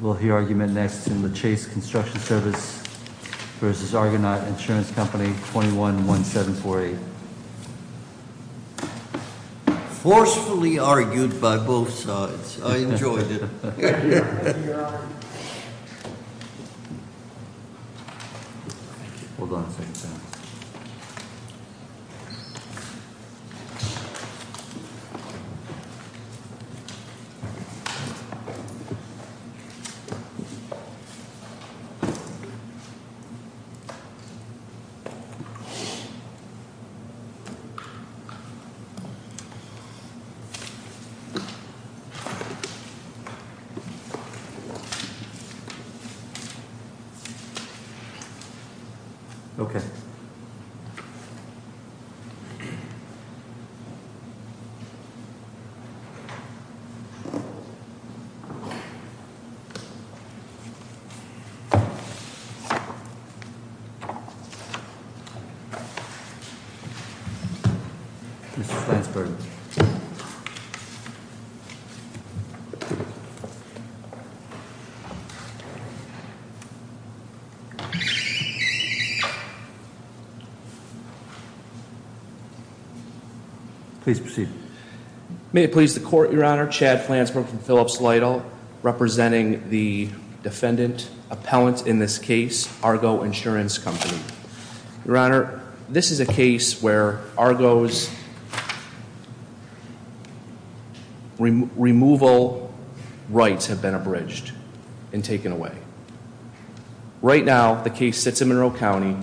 We'll hear argument next in the Chase Construction Service versus Argonaut Insurance Company, 211748. Forcefully argued by both sides. I enjoyed it. Thank you, Your Honor. Hold on a second, sir. Mr. Flansburg. Please proceed. May it please the court, Your Honor. Chad Flansburg from Phillips Lytle, representing the defendant, appellant in this case, Argo Insurance Company. Your Honor, this is a case where Argo's removal rights have been abridged and taken away. Right now, the case sits in Monroe County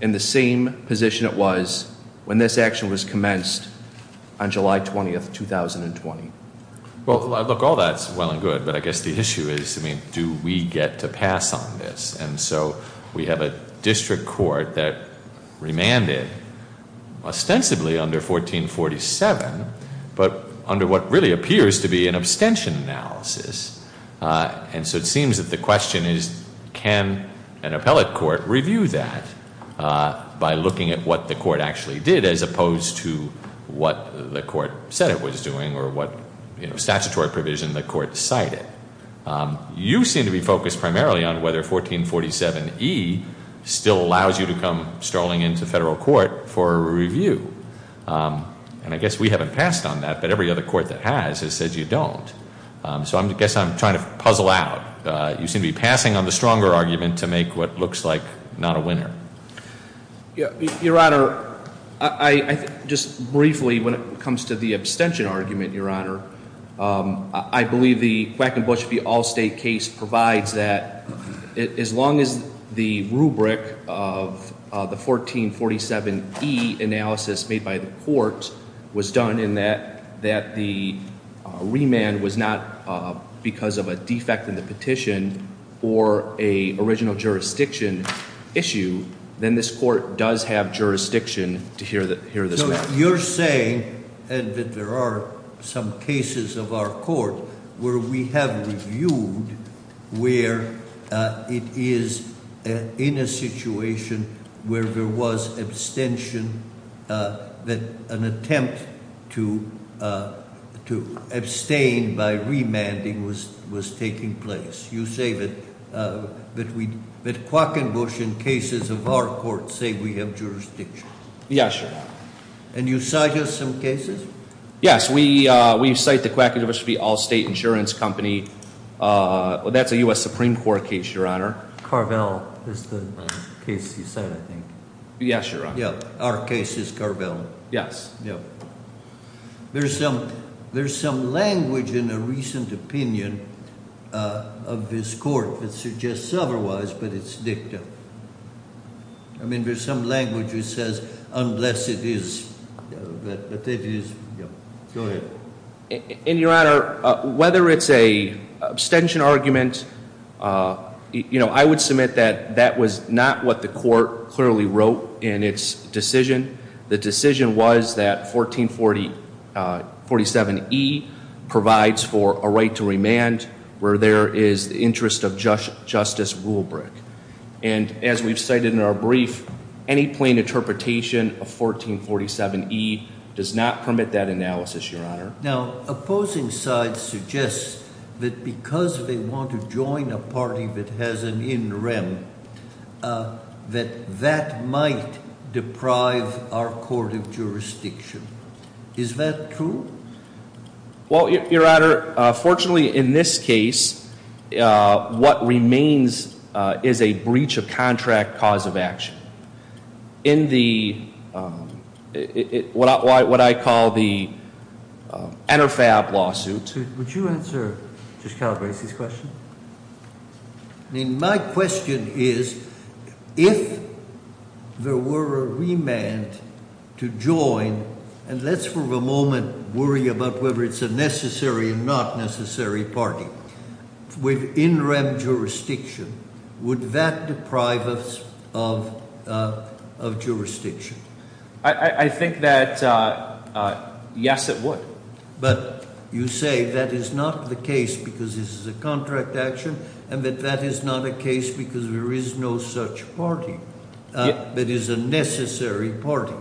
in the same position it was when this action was commenced on July 20th, 2020. Well, look, all that's well and good, but I guess the issue is, I mean, do we get to pass on this? And so, we have a district court that remanded ostensibly under 1447. But under what really appears to be an abstention analysis. And so it seems that the question is, can an appellate court review that by looking at what the court actually did, as opposed to what the court said it was doing, or what statutory provision the court cited. You seem to be focused primarily on whether 1447E still allows you to come strolling into federal court for a review. And I guess we haven't passed on that, but every other court that has has said you don't. So I guess I'm trying to puzzle out. You seem to be passing on the stronger argument to make what looks like not a winner. Your Honor, just briefly, when it comes to the abstention argument, Your Honor, I believe the Quackenbush v. Allstate case provides that as long as the rubric of the 1447E analysis made by the court was done in that the remand was not because of a defect in the petition or a original jurisdiction issue, then this court does have jurisdiction to hear this matter. You're saying, and that there are some cases of our court where we have reviewed where it is in a situation where there was abstention, that an attempt to abstain by remanding was taking place. You say that Quackenbush in cases of our court say we have jurisdiction. Yes, Your Honor. And you cite us some cases? Yes, we cite the Quackenbush v. Allstate Insurance Company, that's a US Supreme Court case, Your Honor. Carvel is the case you cite, I think. Yes, Your Honor. Yeah, our case is Carvel. Yes. Yeah, there's some language in a recent opinion of this court that suggests otherwise, but it's dicta. I mean, there's some language that says, unless it is, but it is, yeah. Go ahead. In Your Honor, whether it's a abstention argument, I would submit that that was not what the court clearly wrote in its decision. The decision was that 1447E provides for a right to remand where there is the interest of Justice Rulebrick. And as we've cited in our brief, any plain interpretation of 1447E does not permit that analysis, Your Honor. Now, opposing sides suggest that because they want to join a party that has an in rem, that that might deprive our court of jurisdiction. Is that true? Well, Your Honor, fortunately in this case, what remains is a breach of contract cause of action. In the, what I call the Interfab lawsuit. I mean, my question is, if there were a remand to join, and let's for a moment worry about whether it's a necessary or not necessary party. With in rem jurisdiction, would that deprive us of jurisdiction? I think that yes, it would. But you say that is not the case because this is a contract action and that that is not a case because there is no such party that is a necessary party.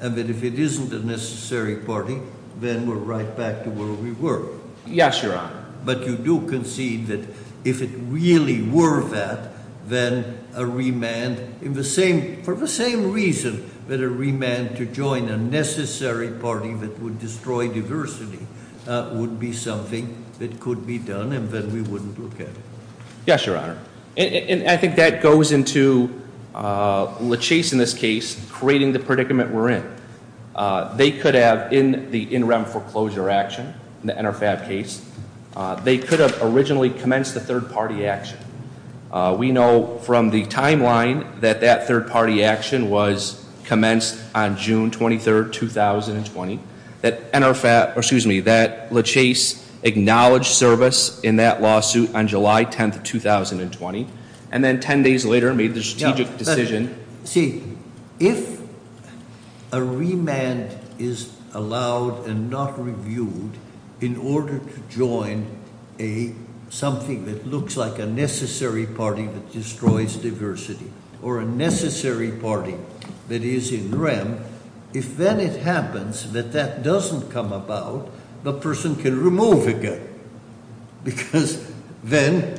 And that if it isn't a necessary party, then we're right back to where we were. Yes, Your Honor. But you do concede that if it really were that, then a remand in the same, for the same reason that a remand to join a necessary party that would destroy diversity would be something that could be done and then we wouldn't look at it. Yes, Your Honor. And I think that goes into LaChase in this case, creating the predicament we're in. They could have, in the in rem foreclosure action, the Interfab case. They could have originally commenced the third party action. We know from the timeline that that third party action was commenced on June 23rd, 2020. That LaChase acknowledged service in that lawsuit on July 10th, 2020. And then ten days later made the strategic decision. See, if a remand is allowed and not reviewed in order to join something that looks like a necessary party that destroys diversity. Or a necessary party that is in rem. If then it happens that that doesn't come about, the person can remove again. Because then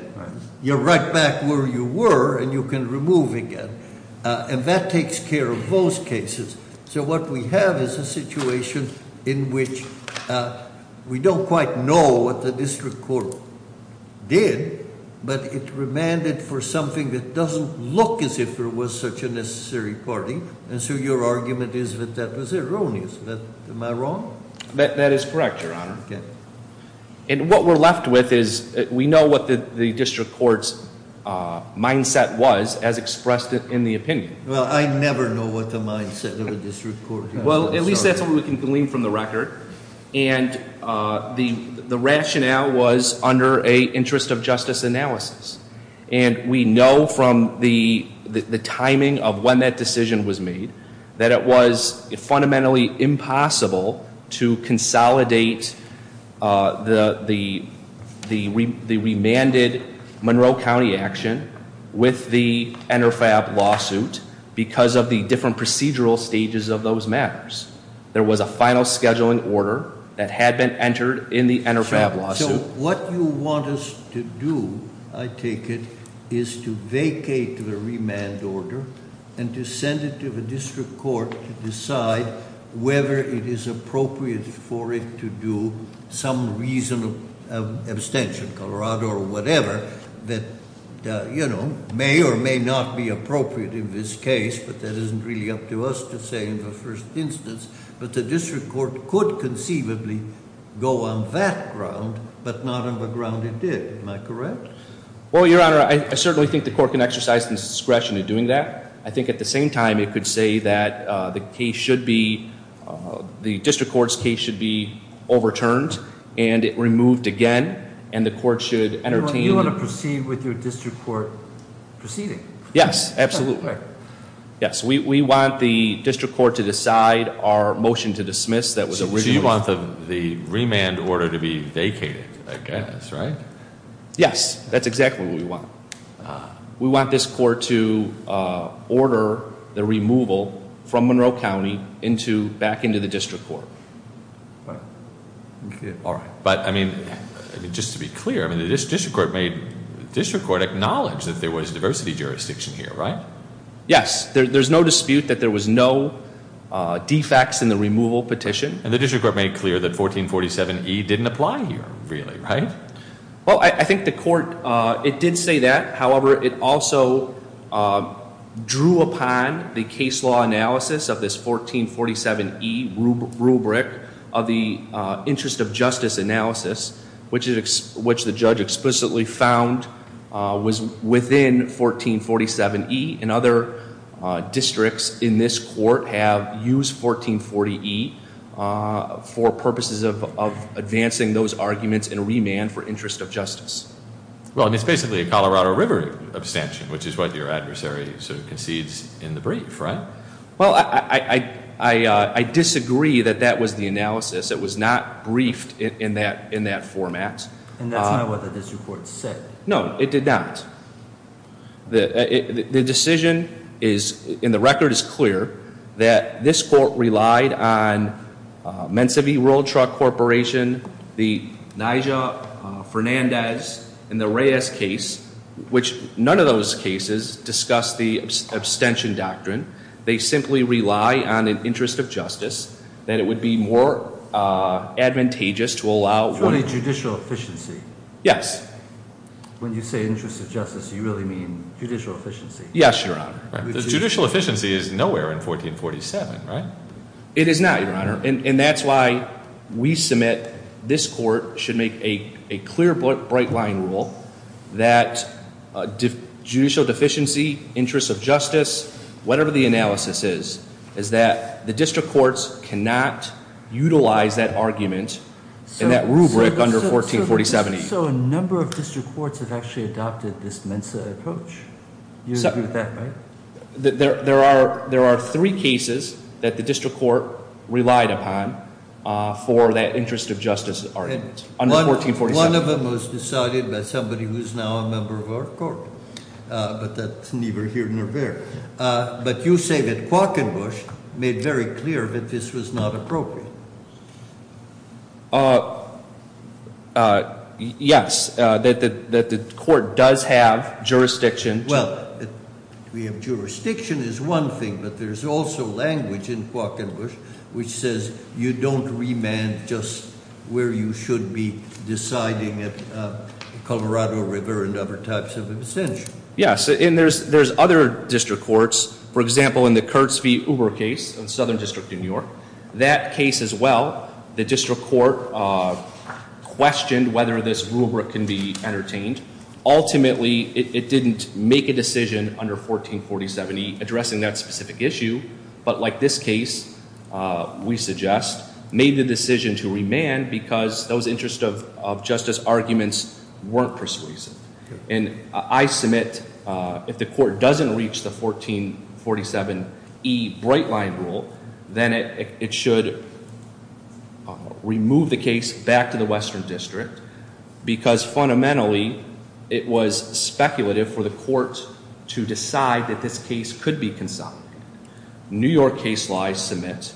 you're right back where you were and you can remove again. And that takes care of those cases. So what we have is a situation in which we don't quite know what the district court did. But it remanded for something that doesn't look as if there was such a necessary party. And so your argument is that that was erroneous. Am I wrong? That is correct, Your Honor. Okay. And what we're left with is we know what the district court's mindset was as expressed in the opinion. Well, I never know what the mindset of a district court- Well, at least that's what we can glean from the record. And the rationale was under a interest of justice analysis. And we know from the timing of when that decision was made, that it was fundamentally impossible to consolidate the remanded Monroe County action with the InterFab lawsuit, because of the different procedural stages of those matters. There was a final scheduling order that had been entered in the InterFab lawsuit. What you want us to do, I take it, is to vacate the remand order and to send it to the district court to decide whether it is appropriate for it to do some reason of abstention, Colorado or whatever. That may or may not be appropriate in this case, but that isn't really up to us to say in the first instance. But the district court could conceivably go on that ground, but not on the ground it did. Am I correct? Well, Your Honor, I certainly think the court can exercise its discretion in doing that. I think at the same time, it could say that the district court's case should be overturned and it removed again. And the court should entertain- You want to proceed with your district court proceeding? Yes, absolutely. Yes, we want the district court to decide our motion to dismiss that was originally- So you want the remand order to be vacated, I guess, right? Yes, that's exactly what we want. We want this court to order the removal from Monroe County back into the district court. All right, but I mean, just to be clear, the district court acknowledged that there was diversity jurisdiction here, right? Yes, there's no dispute that there was no defects in the removal petition. And the district court made clear that 1447E didn't apply here, really, right? Well, I think the court, it did say that. However, it also drew upon the case law analysis of this 1447E rubric of the interest of justice analysis, which the judge explicitly found was within 1447E. And other districts in this court have used 1440E for interest of justice. Well, and it's basically a Colorado River abstention, which is what your adversary sort of concedes in the brief, right? Well, I disagree that that was the analysis. It was not briefed in that format. And that's not what the district court said. No, it did not. The decision is, and the record is clear, that this court relied on Mensa V World Truck Corporation, the Nyjah Fernandez, and the Reyes case, which none of those cases discuss the abstention doctrine. They simply rely on an interest of justice, that it would be more advantageous to allow- For a judicial efficiency. Yes. When you say interest of justice, you really mean judicial efficiency. Yes, your honor. The judicial efficiency is nowhere in 1447, right? It is not, your honor. And that's why we submit this court should make a clear, bright line rule that judicial deficiency, interest of justice, whatever the analysis is, is that the district courts cannot utilize that argument in that rubric under 1447. So a number of district courts have actually adopted this Mensa approach. You agree with that, right? There are three cases that the district court relied upon for that interest of justice argument under 1447. One of them was decided by somebody who's now a member of our court, but that's neither here nor there. But you say that Quokkenbush made very clear that this was not appropriate. Yes, that the court does have jurisdiction. Well, we have jurisdiction is one thing, but there's also language in Quokkenbush which says you don't remand just where you should be deciding at Colorado River and other types of abstention. Yes, and there's other district courts. For example, in the Kurtz v. Uber case in Southern District in New York, that case as well, the district court questioned whether this rubric can be entertained. Ultimately, it didn't make a decision under 1447E addressing that specific issue. But like this case, we suggest, made the decision to remand because those interest of justice arguments weren't persuasive. And I submit, if the court doesn't reach the 1447E bright line rule, then it should remove the case back to the Western District. Because fundamentally, it was speculative for the court to decide that this case could be consolidated. New York case law, I submit,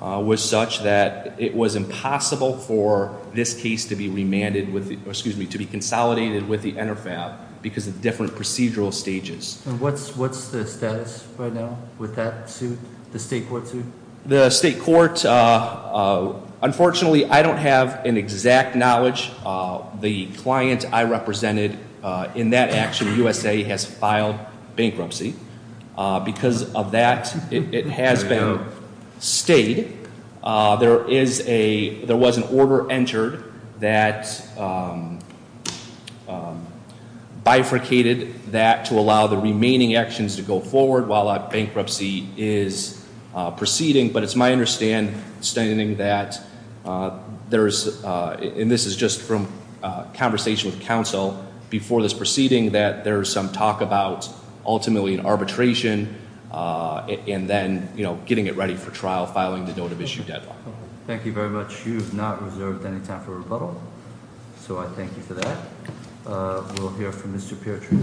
was such that it was impossible for this case to be remanded, excuse me, to be consolidated with the NRFAB because of different procedural stages. And what's the status right now with that suit, the state court suit? The state court, unfortunately, I don't have an exact knowledge. The client I represented in that action, USA, has filed bankruptcy. Because of that, it has been stayed. There was an order entered that bifurcated that to allow the remaining actions to go forward while a bankruptcy is proceeding. But it's my understanding that there's, and this is just from a conversation with counsel before this proceeding, that there's some talk about ultimately an arbitration and then getting it ready for trial, filing the note of issue deadline. Thank you very much. You have not reserved any time for rebuttal. So I thank you for that. We'll hear from Mr. Peartree.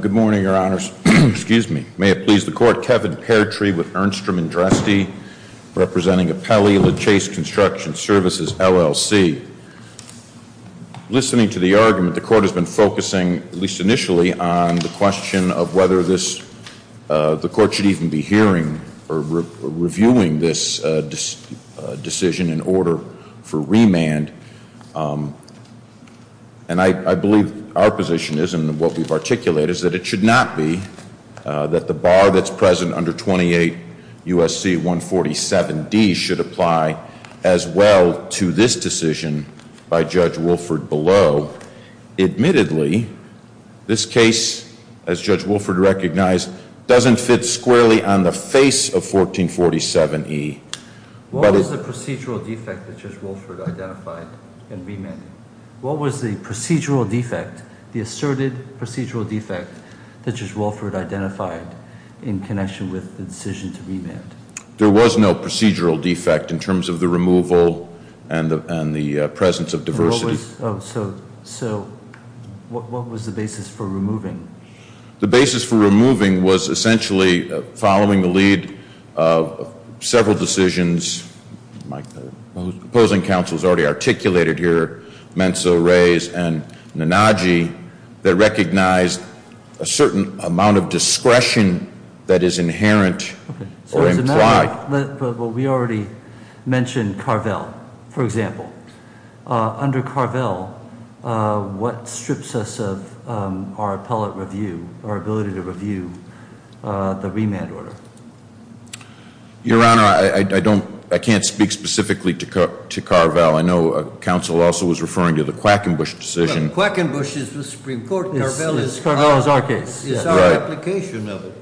Good morning, your honors. Excuse me. May it please the court, Kevin Peartree with Ernstrom and Dresty, representing Apelli, LaChase Construction Services, LLC. Listening to the argument, the court has been focusing, at least initially, on the question of whether this, the court should even be hearing or reviewing this decision in order for remand. And I believe our position is, and what we've articulated, is that it should not be that the bar that's present under 28 USC 147D should apply as well to this decision by Judge Wilford below. Admittedly, this case, as Judge Wilford recognized, doesn't fit squarely on the face of 1447E. What was the procedural defect that Judge Wilford identified in remanding? What was the procedural defect, the asserted procedural defect, that Judge Wilford identified in connection with the decision to remand? There was no procedural defect in terms of the removal and the presence of diversity. So what was the basis for removing? The basis for removing was essentially following the lead of several decisions. My opposing counsel has already articulated here, Menzo, Reyes, and Nanaji, that recognized a certain amount of discretion that is inherent or implied. We already mentioned Carvel, for example. Under Carvel, what strips us of our appellate review, our ability to review the remand order? Your Honor, I can't speak specifically to Carvel. I know counsel also was referring to the Quackenbush decision. Quackenbush is the Supreme Court, Carvel is our application of it.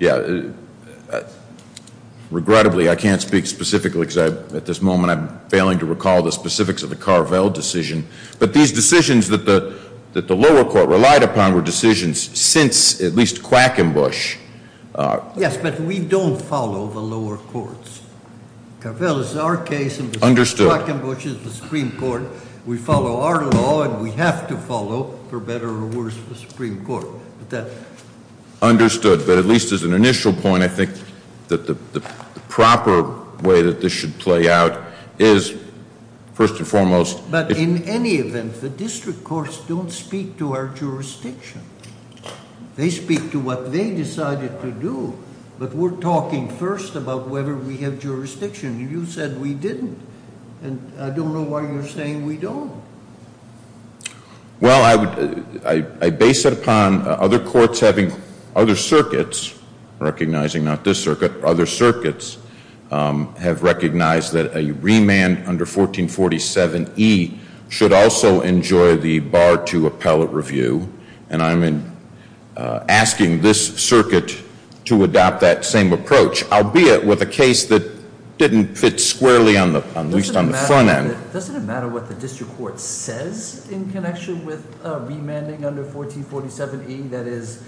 Yeah, regrettably I can't speak specifically because at this moment I'm not aware of the specifics of the Carvel decision, but these decisions that the lower court relied upon were decisions since at least Quackenbush. Yes, but we don't follow the lower courts. Carvel is our case and Quackenbush is the Supreme Court. We follow our law and we have to follow, for better or worse, the Supreme Court, but that- First and foremost- But in any event, the district courts don't speak to our jurisdiction. They speak to what they decided to do, but we're talking first about whether we have jurisdiction. You said we didn't, and I don't know why you're saying we don't. Well, I base it upon other courts having other circuits, recognizing not this circuit, other circuits have recognized that a remand under 1447E should also enjoy the bar to appellate review. And I'm asking this circuit to adopt that same approach, albeit with a case that didn't fit squarely, at least on the front end. Doesn't it matter what the district court says in connection with remanding under 1447E? That is,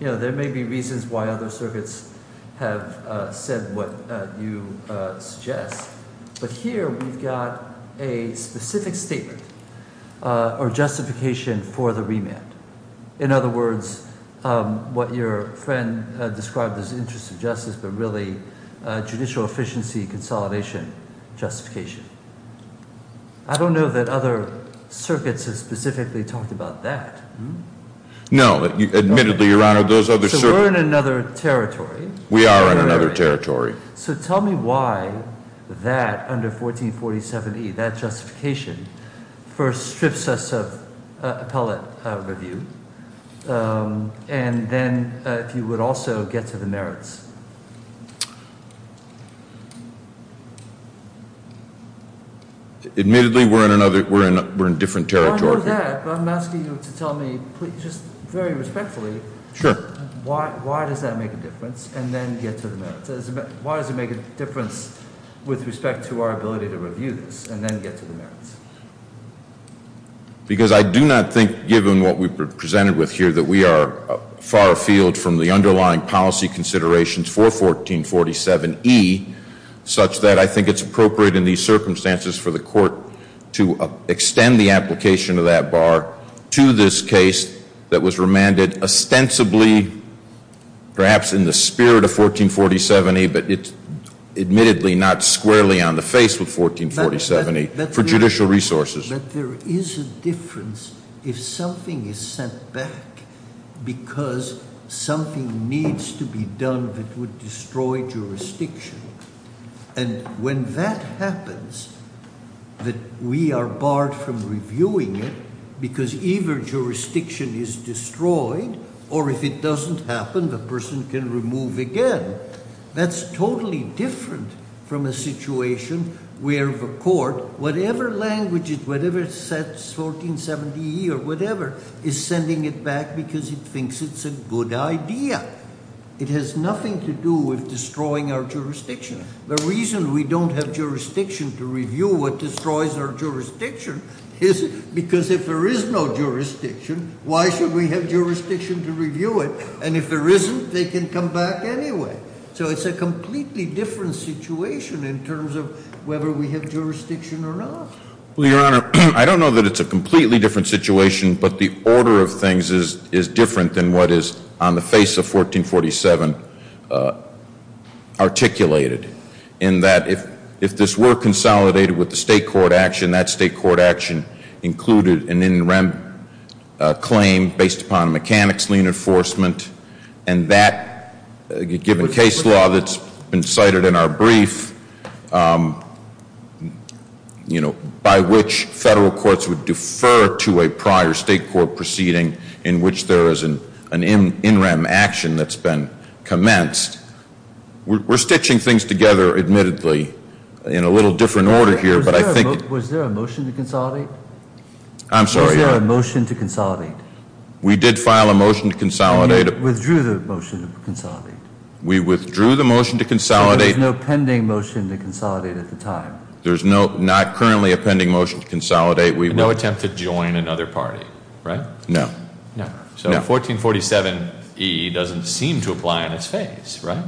there may be reasons why other circuits have said what you suggest. But here we've got a specific statement or justification for the remand. In other words, what your friend described as interest of justice, but really judicial efficiency consolidation justification. I don't know that other circuits have specifically talked about that. No, admittedly, your honor, those other circuits- So we're in another territory. We are in another territory. So tell me why that under 1447E, that justification first strips us of appellate review. And then if you would also get to the merits. Admittedly, we're in different territory. I know that, but I'm asking you to tell me, just very respectfully, why does that make a difference? And then get to the merits. Why does it make a difference with respect to our ability to review this, and then get to the merits? Because I do not think, given what we've been presented with here, that we are far afield from the underlying policy considerations for 1447E, such that I think it's appropriate in these circumstances for the court to extend the application of that bar to this case that was remanded ostensibly, perhaps in the spirit of 1447E, but it's admittedly not squarely on the face of 1447E for judicial resources. But there is a difference if something is sent back because something needs to be done that would destroy jurisdiction. And when that happens, that we are barred from reviewing it, because either jurisdiction is destroyed, or if it doesn't happen, the person can remove again. That's totally different from a situation where the court, whatever language, whatever it says, 1470E or whatever, is sending it back because it thinks it's a good idea. It has nothing to do with destroying our jurisdiction. The reason we don't have jurisdiction to review what destroys our jurisdiction is because if there is no jurisdiction, why should we have jurisdiction to review it, and if there isn't, they can come back anyway. So it's a completely different situation in terms of whether we have jurisdiction or not. Well, Your Honor, I don't know that it's a completely different situation, but the order of things is different than what is, on the face of 1447, articulated. In that if this were consolidated with the state court action, that state court action included an in-rem claim based upon a mechanic's lien enforcement. And that, given case law that's been cited in our brief, by which federal courts would defer to a prior state court proceeding, in which there is an in-rem action that's been commenced. We're stitching things together, admittedly, in a little different order here, but I think- Was there a motion to consolidate? I'm sorry, Your Honor. Was there a motion to consolidate? We did file a motion to consolidate. We withdrew the motion to consolidate. So there's no pending motion to consolidate at the time? There's not currently a pending motion to consolidate. We- No attempt to join another party, right? No. No. So 1447E doesn't seem to apply in its face, right?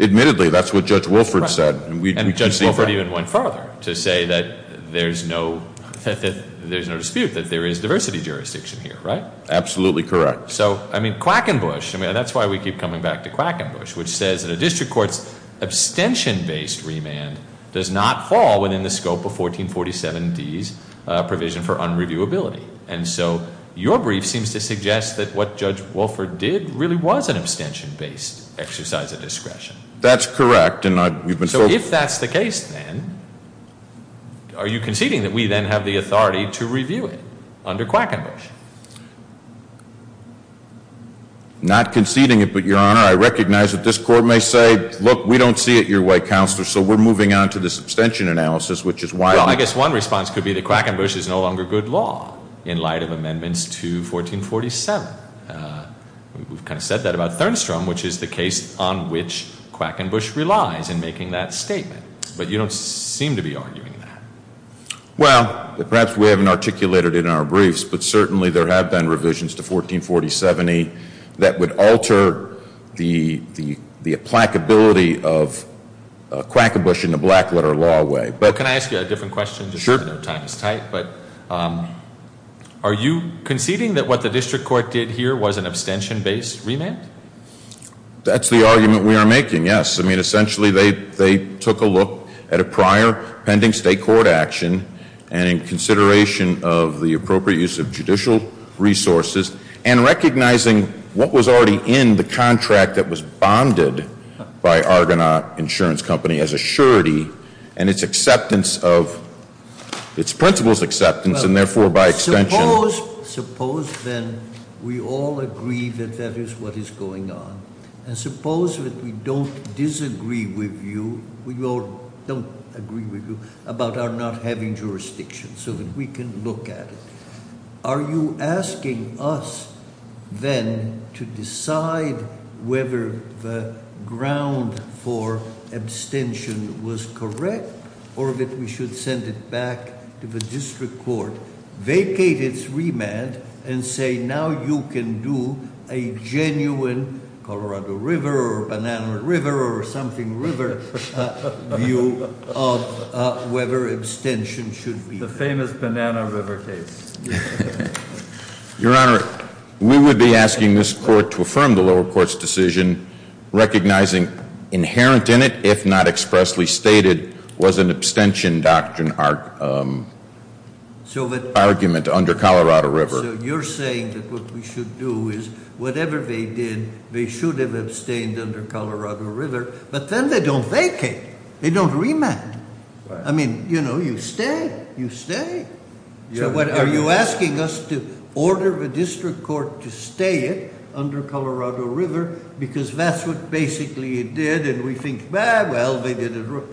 Admittedly, that's what Judge Wilford said. And Judge Wilford even went further to say that there's no dispute that there is diversity jurisdiction here, right? Absolutely correct. So, I mean, Quackenbush, I mean, that's why we keep coming back to Quackenbush, which says that a district court's abstention-based remand does not fall within the scope of 1447D's provision for unreviewability. And so, your brief seems to suggest that what Judge Wilford did really was an abstention-based exercise of discretion. That's correct, and I, we've been- So if that's the case then, are you conceding that we then have the authority to review it under Quackenbush? Not conceding it, but, your honor, I recognize that this court may say, look, we don't see it your way, counselor, so we're moving on to the substantion analysis, which is why I- Well, I guess one response could be that Quackenbush is no longer good law in light of amendments to 1447. We've kind of said that about Thernstrom, which is the case on which Quackenbush relies in making that statement, but you don't seem to be arguing that. Well, perhaps we haven't articulated it in our briefs, but certainly there have been revisions to 1447E that would alter the applicability of Quackenbush in a black-letter law way, but- Can I ask you a different question? Sure. I know time is tight, but are you conceding that what the district court did here was an abstention-based remand? That's the argument we are making, yes. I mean, essentially, they took a look at a prior pending state court action, and in consideration of the appropriate use of judicial resources, and recognizing what was already in the contract that was bonded by Argonaut Insurance Company as a surety, and its acceptance of, its principal's acceptance, and therefore, by extension- Suppose, then, we all agree that that is what is going on. And suppose that we don't disagree with you, we all don't agree with you, about our not having jurisdiction, so that we can look at it. Are you asking us, then, to decide whether the ground for abstention was correct, or that we should send it back to the district court, vacate its remand, and say, now you can do a genuine Colorado River, or Banana River, or something river view of whether abstention should be- The famous Banana River case. Your Honor, we would be asking this court to affirm the lower court's decision, recognizing inherent in it, if not expressly stated, was an abstention doctrine. Our argument under Colorado River. So, you're saying that what we should do is, whatever they did, they should have abstained under Colorado River, but then they don't vacate. They don't remand. I mean, you stay, you stay. So, are you asking us to order the district court to stay it under Colorado River, because that's what basically it did, and we think, well, they did it wrong.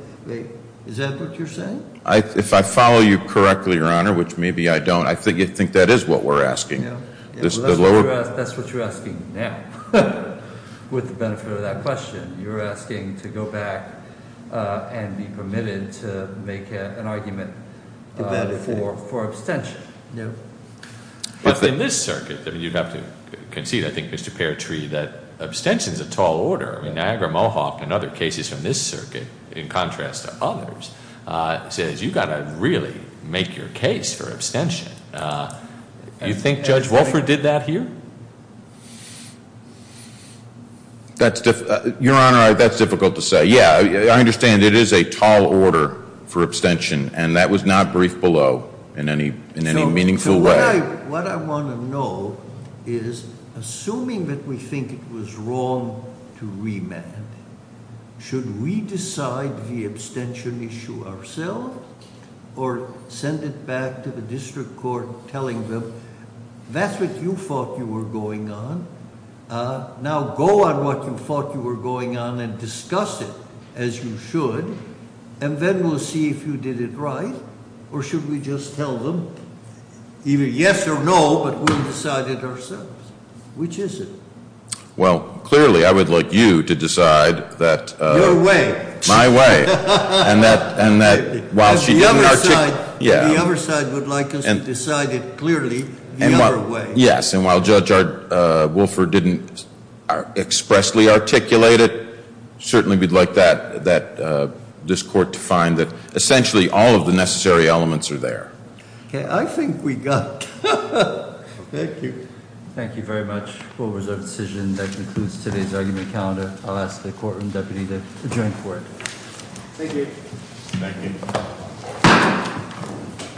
Is that what you're saying? If I follow you correctly, Your Honor, which maybe I don't, I think you think that is what we're asking. This is the lower- That's what you're asking now, with the benefit of that question. You're asking to go back and be permitted to make an argument for abstention. Yeah. But in this circuit, you'd have to concede, I think, Mr. Paratree, that abstention's a tall order. Niagara Mohawk and other cases from this circuit, in contrast to others, says you've got to really make your case for abstention. You think Judge Wolford did that here? That's, Your Honor, that's difficult to say. Yeah, I understand it is a tall order for abstention, and that was not briefed below in any meaningful way. What I want to know is, assuming that we think it was wrong to remand, should we decide the abstention issue ourselves, or send it back to the district court telling them, that's what you thought you were going on. Now go on what you thought you were going on and discuss it as you should, and then we'll see if you did it right, or should we just tell them, either yes or no, but we'll decide it ourselves. Which is it? Well, clearly, I would like you to decide that- Your way. My way. And that, while she didn't articulate- The other side would like us to decide it clearly the other way. Yes, and while Judge Wolford didn't expressly articulate it, certainly we'd like this court to find that essentially all of the necessary elements are there. Okay, I think we got it. Thank you. Thank you very much. We'll reserve the decision that concludes today's argument calendar. I'll ask the courtroom deputy to adjourn court. Thank you. Thank you. Court is adjourned.